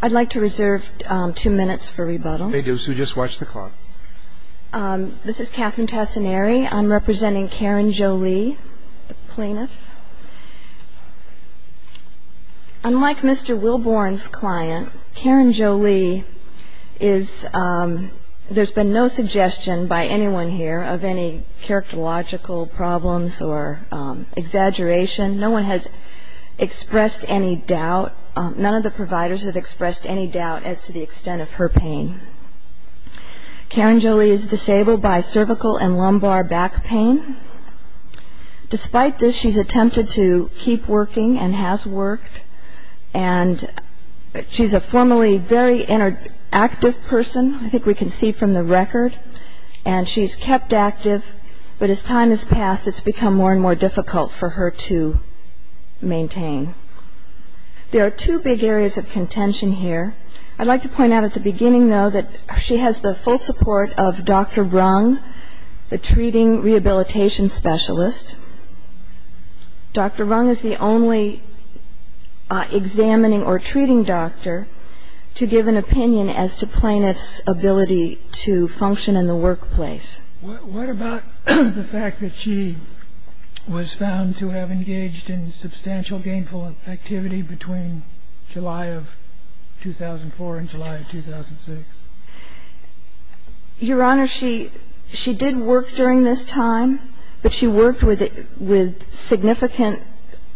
I'd like to reserve two minutes for rebuttal. You may do so. Just watch the clock. This is Catherine Tassinari. I'm representing Karen Joly, the plaintiff. Unlike Mr. Wilbourn's client, Karen Joly, there's been no suggestion by anyone here of any characterological problems or exaggeration. No one has expressed any doubt. None of the providers have expressed any doubt as to the extent of her pain. Karen Joly is disabled by cervical and lumbar back pain. Despite this, she's attempted to keep working and has worked. And she's a formerly very active person, I think we can see from the record. And she's kept active, but as time has passed, it's become more and more difficult for her to maintain. There are two big areas of contention here. I'd like to point out at the beginning, though, that she has the full support of Dr. Rung, the treating rehabilitation specialist. Dr. Rung is the only examining or treating doctor to give an opinion as to plaintiff's ability to function in the workplace. What about the fact that she was found to have engaged in substantial gainful activity between July of 2004 and July of 2006? Your Honor, she did work during this time, but she worked with significant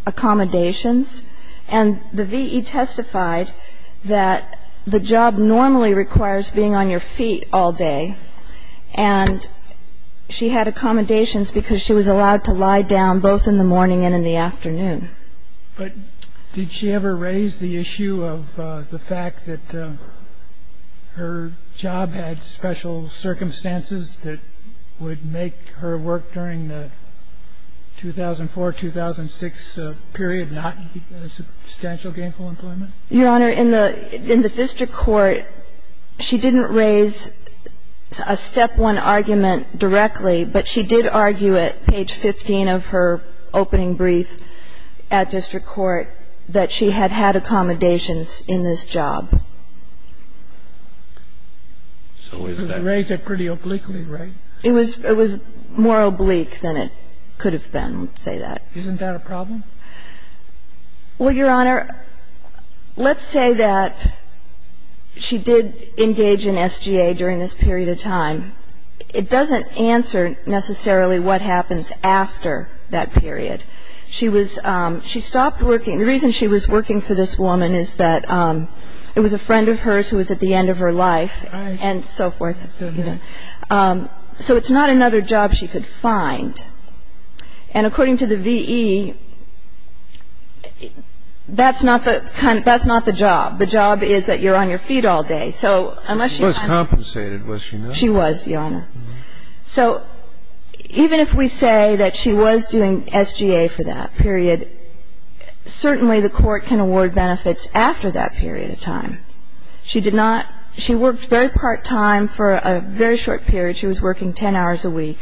accommodations. And the V.E. testified that the job normally requires being on your feet all day. And she had accommodations because she was allowed to lie down both in the morning and in the afternoon. But did she ever raise the issue of the fact that her job had special circumstances that would make her work during the 2004-2006 period not substantial gainful employment? Your Honor, in the district court, she didn't raise a step one argument directly, but she did argue at page 15 of her opening brief at district court that she had had accommodations in this job. She raised it pretty obliquely, right? It was more oblique than it could have been, I would say that. Isn't that a problem? Well, Your Honor, let's say that she did engage in SGA during this period of time. It doesn't answer necessarily what happens after that period. She was ‑‑ she stopped working. The reason she was working for this woman is that it was a friend of hers who was at the end of her life and so forth. So it's not another job she could find. And according to the V.E., that's not the job. The job is that you're on your feet all day. She was compensated, was she not? She was, Your Honor. So even if we say that she was doing SGA for that period, certainly the court can award benefits after that period of time. She did not ‑‑ she worked very part time for a very short period. She was working 10 hours a week.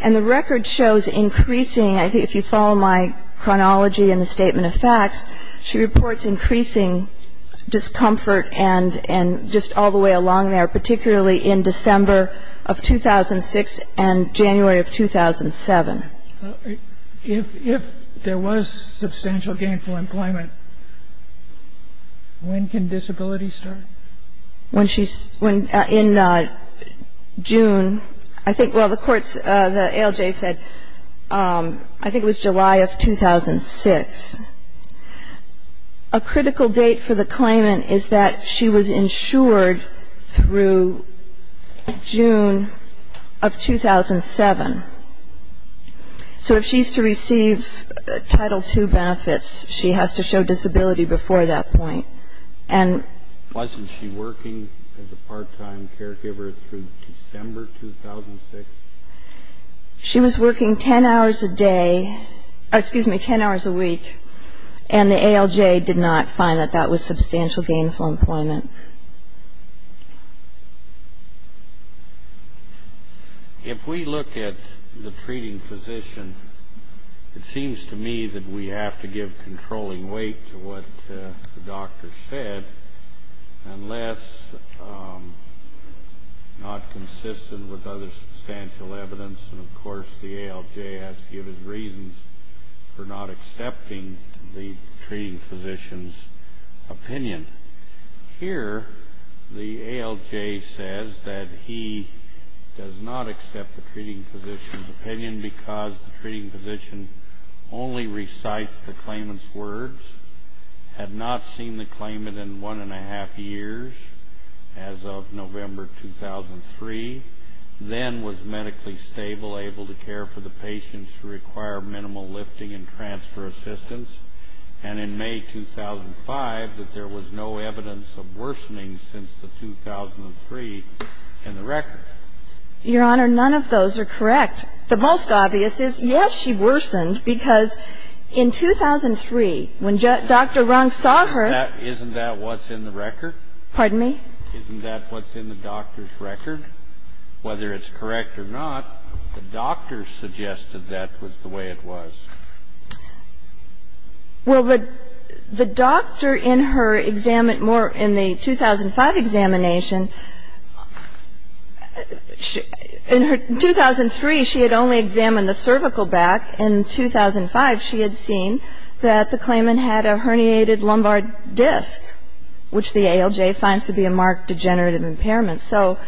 And the record shows increasing, I think if you follow my chronology and the statement of facts, she reports increasing discomfort and just all the way along there, particularly in December of 2006 and January of 2007. If there was substantial gainful employment, when can disability start? When she's ‑‑ in June, I think, well, the courts, the ALJ said I think it was July of 2006. A critical date for the claimant is that she was insured through June of 2007. So if she's to receive Title II benefits, she has to show disability before that point. Wasn't she working as a part time caregiver through December 2006? She was working 10 hours a day ‑‑ excuse me, 10 hours a week. And the ALJ did not find that that was substantial gainful employment. If we look at the treating physician, it seems to me that we have to give controlling weight to what the doctor said unless not consistent with other substantial evidence. And, of course, the ALJ has to give us reasons for not accepting the treating physician's opinion. Here, the ALJ says that he does not accept the treating physician's opinion because the treating physician only recites the claimant's words. Had not seen the claimant in one and a half years as of November 2003. Then was medically stable, able to care for the patients who require minimal lifting and transfer assistance. And in May 2005, that there was no evidence of worsening since the 2003 in the record. Your Honor, none of those are correct. The most obvious is, yes, she worsened, because in 2003, when Dr. Rung saw her ‑‑ Isn't that what's in the record? Pardon me? Isn't that what's in the doctor's record? Whether it's correct or not, the doctor suggested that was the way it was. Well, the doctor in her ‑‑ in the 2005 examination, in 2003, she had only examined the cervical back. In 2005, she had seen that the claimant had a herniated lumbar disc, which the ALJ finds to be a marked degenerative impairment. So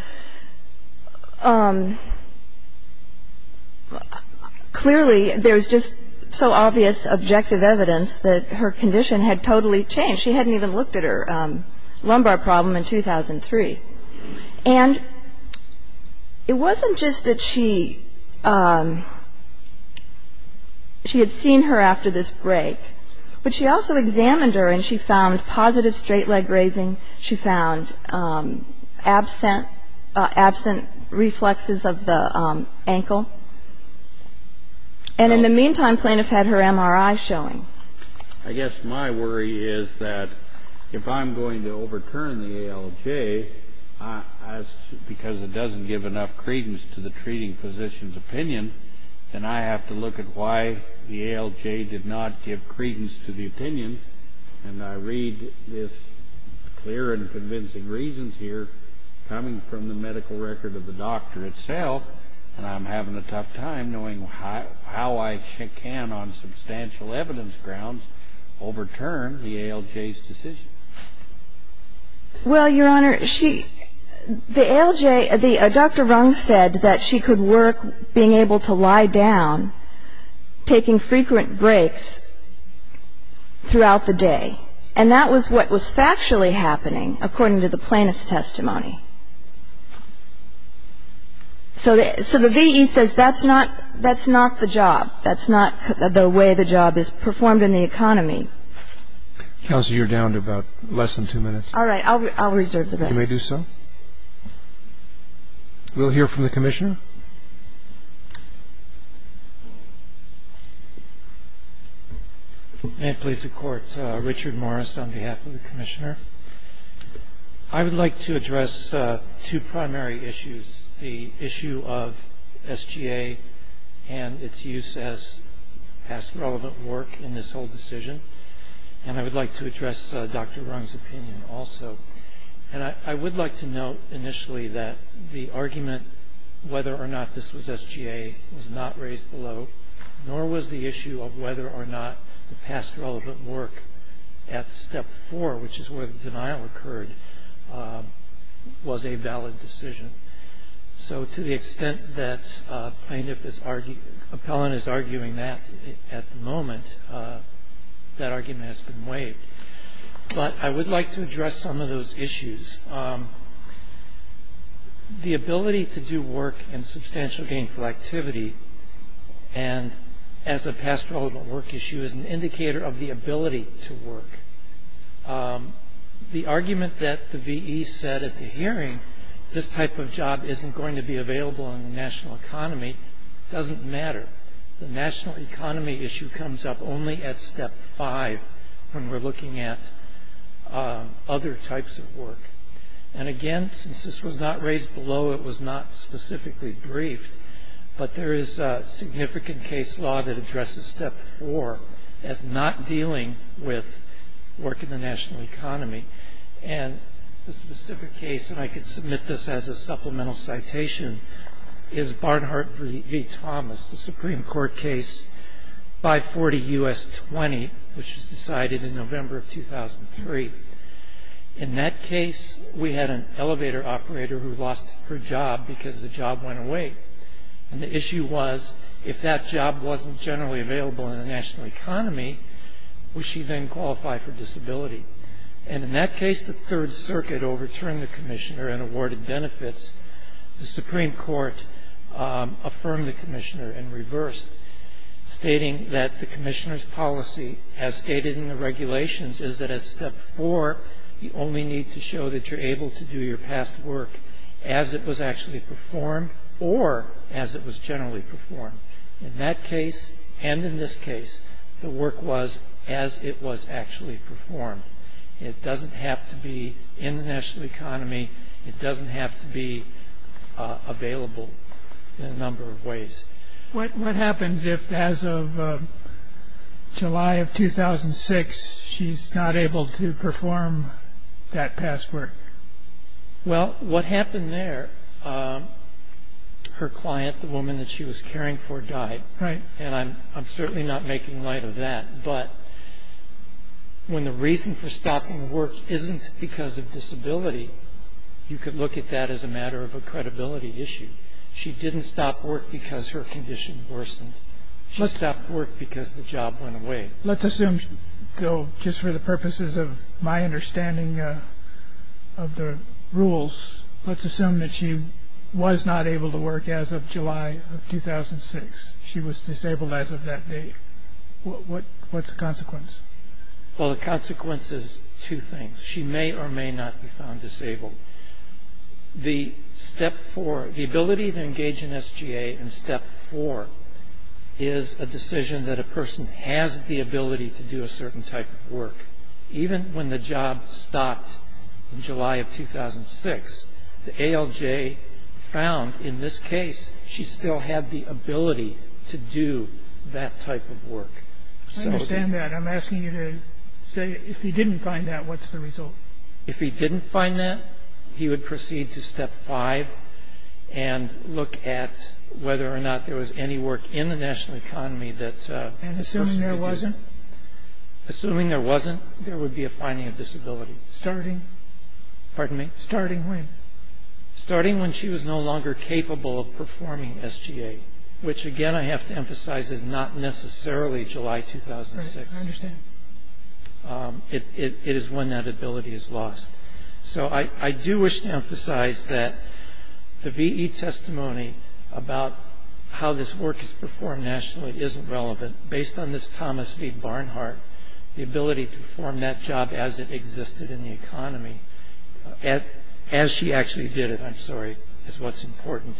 clearly, there's just so obvious objective evidence that her condition had totally changed. She hadn't even looked at her lumbar problem in 2003. And it wasn't just that she had seen her after this break, but she also examined her and she found positive straight leg raising. She found absent reflexes of the ankle. And in the meantime, plaintiff had her MRI showing. I guess my worry is that if I'm going to overturn the ALJ, because it doesn't give enough credence to the treating physician's opinion, then I have to look at why the ALJ did not give credence to the opinion. And I read this clear and convincing reasons here coming from the medical record of the doctor itself, and I'm having a tough time knowing how I can, on substantial evidence grounds, overturn the ALJ's decision. Well, Your Honor, the ALJ, Dr. Rung said that she could work being able to lie down, taking frequent breaks throughout the day. And that was what was factually happening, according to the plaintiff's testimony. So the VE says that's not the job. That's not the way the job is performed in the economy. Counsel, you're down to about less than two minutes. All right. I'll reserve the rest. You may do so. We'll hear from the Commissioner. May it please the Court, Richard Morris on behalf of the Commissioner. I would like to address two primary issues, the issue of SGA and its use as past relevant work in this whole decision, and I would like to address Dr. Rung's opinion also. And I would like to note initially that the argument whether or not this was SGA was not raised below, nor was the issue of whether or not the past relevant work at Step 4, which is where the denial occurred, was a valid decision. So to the extent that Appellant is arguing that at the moment, that argument has been waived. But I would like to address some of those issues. The ability to do work in substantial gainful activity and as a past relevant work issue is an indicator of the ability to work. The argument that the VE said at the hearing, this type of job isn't going to be available in the national economy, doesn't matter. The national economy issue comes up only at Step 5 when we're looking at other types of work. And again, since this was not raised below, it was not specifically briefed, but there is a significant case law that addresses Step 4 as not dealing with work in the national economy. And the specific case, and I could submit this as a supplemental citation, is Barnhart v. Thomas, the Supreme Court case 540 U.S. 20, which was decided in November of 2003. In that case, we had an elevator operator who lost her job because the job went away. And the issue was, if that job wasn't generally available in the national economy, would she then qualify for disability? And in that case, the Third Circuit overturned the commissioner and awarded benefits. The Supreme Court affirmed the commissioner and reversed, stating that the commissioner's policy, as stated in the regulations, is that at Step 4 you only need to show that you're able to do your past work as it was actually performed or as it was generally performed. In that case and in this case, the work was as it was actually performed. It doesn't have to be in the national economy. It doesn't have to be available in a number of ways. What happens if, as of July of 2006, she's not able to perform that past work? Well, what happened there, her client, the woman that she was caring for, died. Right. And I'm certainly not making light of that. But when the reason for stopping work isn't because of disability, you could look at that as a matter of a credibility issue. She didn't stop work because her condition worsened. She stopped work because the job went away. Let's assume, though, just for the purposes of my understanding of the rules, let's assume that she was not able to work as of July of 2006. She was disabled as of that date. What's the consequence? Well, the consequence is two things. She may or may not be found disabled. The step four, the ability to engage in SGA in step four, is a decision that a person has the ability to do a certain type of work. Even when the job stopped in July of 2006, the ALJ found in this case she still had the ability to do that type of work. I understand that. I'm asking you to say if he didn't find that, what's the result? If he didn't find that, he would proceed to step five and look at whether or not there was any work in the national economy that a person could do. And assuming there wasn't? Assuming there wasn't, there would be a finding of disability. Starting? Pardon me? Starting when? Starting when she was no longer capable of performing SGA, which again I have to emphasize is not necessarily July 2006. I understand. It is when that ability is lost. So I do wish to emphasize that the VE testimony about how this work is performed nationally isn't relevant. Based on this Thomas V. Barnhart, the ability to perform that job as it existed in the economy, as she actually did it, I'm sorry, is what's important.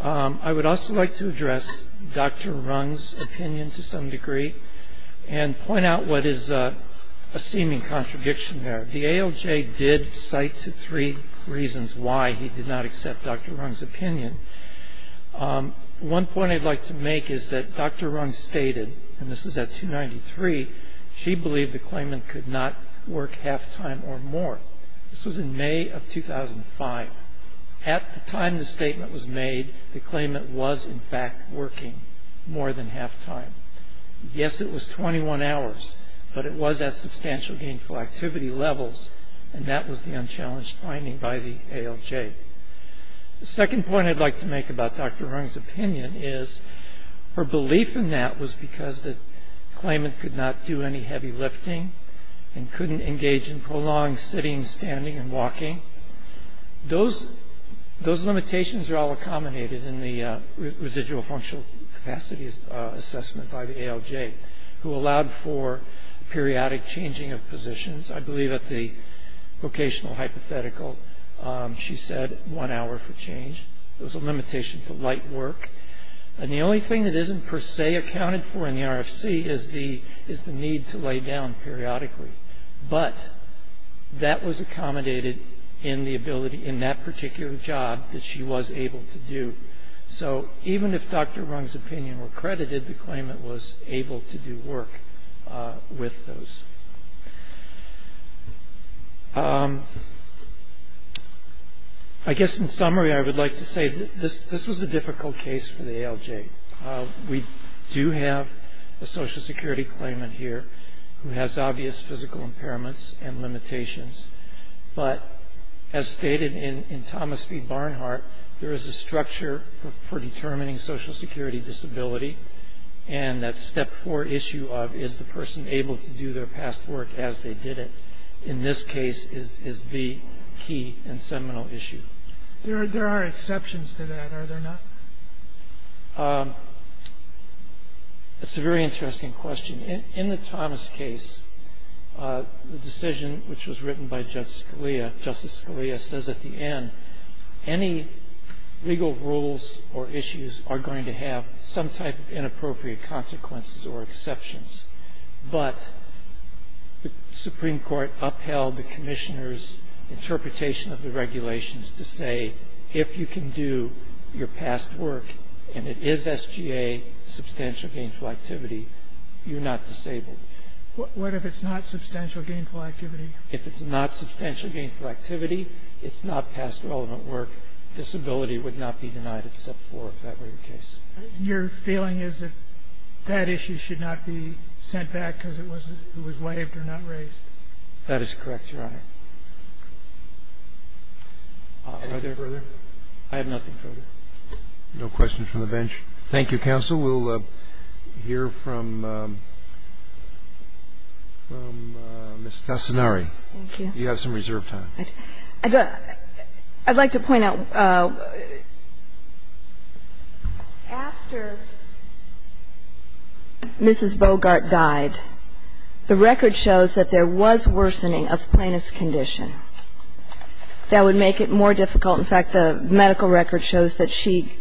I would also like to address Dr. Rung's opinion to some degree and point out what is a seeming contradiction there. The ALJ did cite three reasons why he did not accept Dr. Rung's opinion. One point I'd like to make is that Dr. Rung stated, and this is at 293, she believed the claimant could not work half-time or more. This was in May of 2005. At the time the statement was made, the claimant was in fact working more than half-time. Yes, it was 21 hours, but it was at substantial gainful activity levels, and that was the unchallenged finding by the ALJ. The second point I'd like to make about Dr. Rung's opinion is her belief in that it was because the claimant could not do any heavy lifting and couldn't engage in prolonged sitting, standing, and walking. Those limitations are all accommodated in the residual functional capacities assessment by the ALJ, who allowed for periodic changing of positions. I believe at the vocational hypothetical she said one hour for change. It was a limitation to light work. And the only thing that isn't per se accounted for in the RFC is the need to lay down periodically. But that was accommodated in the ability in that particular job that she was able to do. So even if Dr. Rung's opinion were credited, the claimant was able to do work with those. I guess in summary I would like to say this was a difficult case for the ALJ. We do have a Social Security claimant here who has obvious physical impairments and limitations. But as stated in Thomas B. Barnhart, there is a structure for determining Social Security disability, and that step four issue of is the person able to do their past work as they did it, in this case is the key and seminal issue. There are exceptions to that, are there not? That's a very interesting question. In the Thomas case, the decision which was written by Justice Scalia says at the end any legal rules or issues are going to have some type of inappropriate consequences or exceptions. But the Supreme Court upheld the Commissioner's interpretation of the regulations to say if you can do your past work and it is SGA, substantial gainful activity, you're not disabled. What if it's not substantial gainful activity? If it's not substantial gainful activity, it's not past relevant work, disability would not be denied except for if that were the case. Your feeling is that that issue should not be sent back because it was waived or not raised? That is correct, Your Honor. Are there further? I have nothing further. No questions from the bench. Thank you, counsel. We'll hear from Ms. Tassinari. Thank you. You have some reserved time. I'd like to point out, after Mrs. Bogart died, the record shows that there was worsening of plaintiff's condition that would make it more difficult. In fact, the medical record shows that she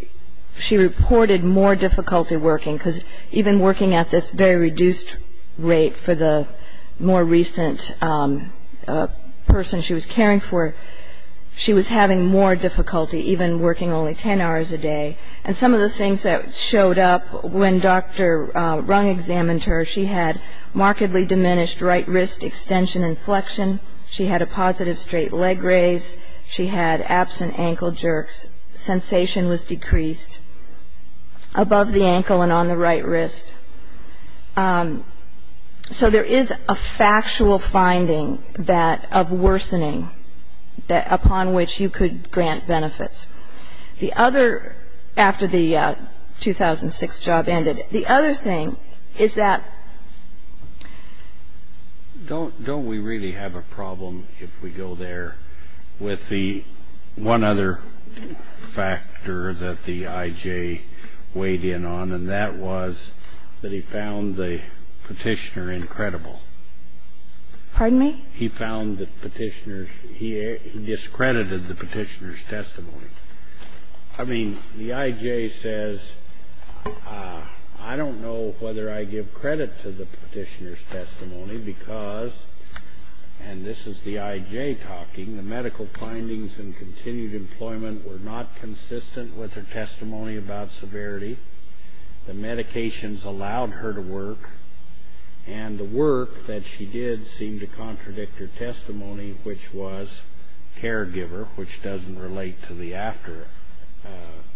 reported more difficulty working because even working at this very reduced rate for the more recent person she was caring for, she was having more difficulty even working only 10 hours a day. And some of the things that showed up when Dr. Rung examined her, she had markedly diminished right wrist extension and flexion. She had a positive straight leg raise. She had absent ankle jerks. Sensation was decreased above the ankle and on the right wrist. So there is a factual finding that of worsening upon which you could grant benefits. The other, after the 2006 job ended, the other thing is that don't we really have a problem if we go there with the one other factor that the I.J. weighed in on, and that was that he found the Petitioner incredible. Pardon me? He found that Petitioner's ‑‑ he discredited the Petitioner's testimony. I mean, the I.J. says, I don't know whether I give credit to the Petitioner's talking, the medical findings and continued employment were not consistent with her testimony about severity. The medications allowed her to work. And the work that she did seemed to contradict her testimony, which was caregiver, which doesn't relate to the after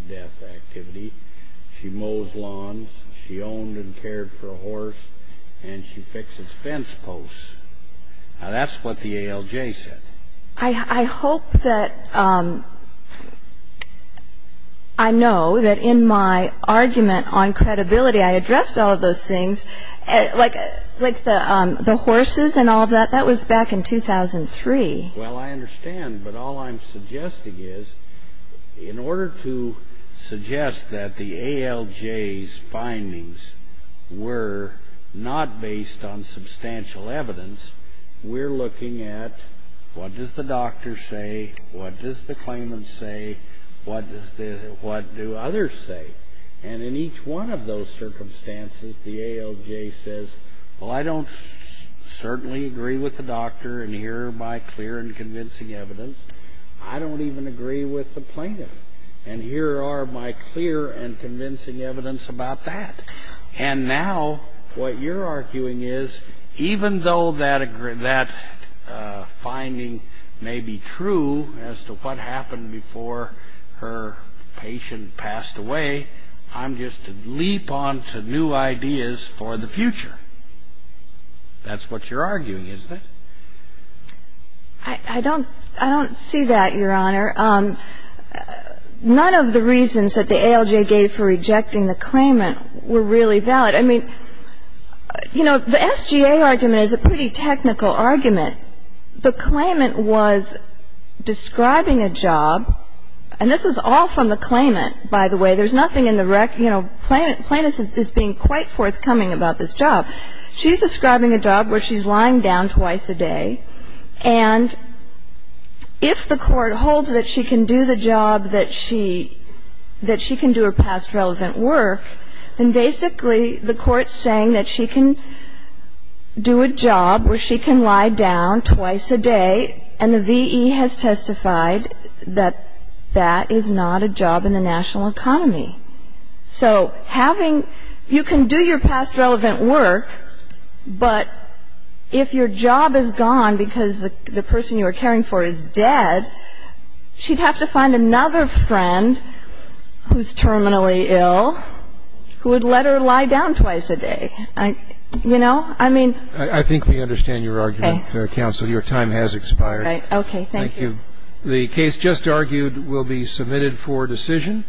death activity. She mows lawns. She owned and cared for a horse. And she fixes fence posts. Now, that's what the ALJ said. I hope that I know that in my argument on credibility, I addressed all of those things, like the horses and all of that. That was back in 2003. Well, I understand. But all I'm suggesting is, in order to suggest that the ALJ's findings were not based on substantial evidence, we're looking at, what does the doctor say? What does the claimant say? What do others say? And in each one of those circumstances, the ALJ says, well, I don't certainly agree with the doctor, and here are my clear and convincing evidence. I don't even agree with the plaintiff. And here are my clear and convincing evidence about that. And now what you're arguing is, even though that finding may be true as to what happened before her patient passed away, I'm just a leap on to new ideas for the future. That's what you're arguing, isn't it? I don't see that, Your Honor. None of the reasons that the ALJ gave for rejecting the claimant were really valid. I mean, you know, the SGA argument is a pretty technical argument. The claimant was describing a job. And this is all from the claimant, by the way. There's nothing in the rec. You know, plaintiff is being quite forthcoming about this job. And if the court holds that she can do the job, that she can do her past relevant work, then basically the court's saying that she can do a job where she can lie down twice a day, and the V.E. has testified that that is not a job in the national economy. So having you can do your past relevant work, but if your job is gone because the person you are caring for is dead, she'd have to find another friend who's terminally ill who would let her lie down twice a day. You know? I mean. I think we understand your argument, Counsel. Okay. Your time has expired. Right. Okay. Thank you. Thank you. The case just argued will be submitted for decision.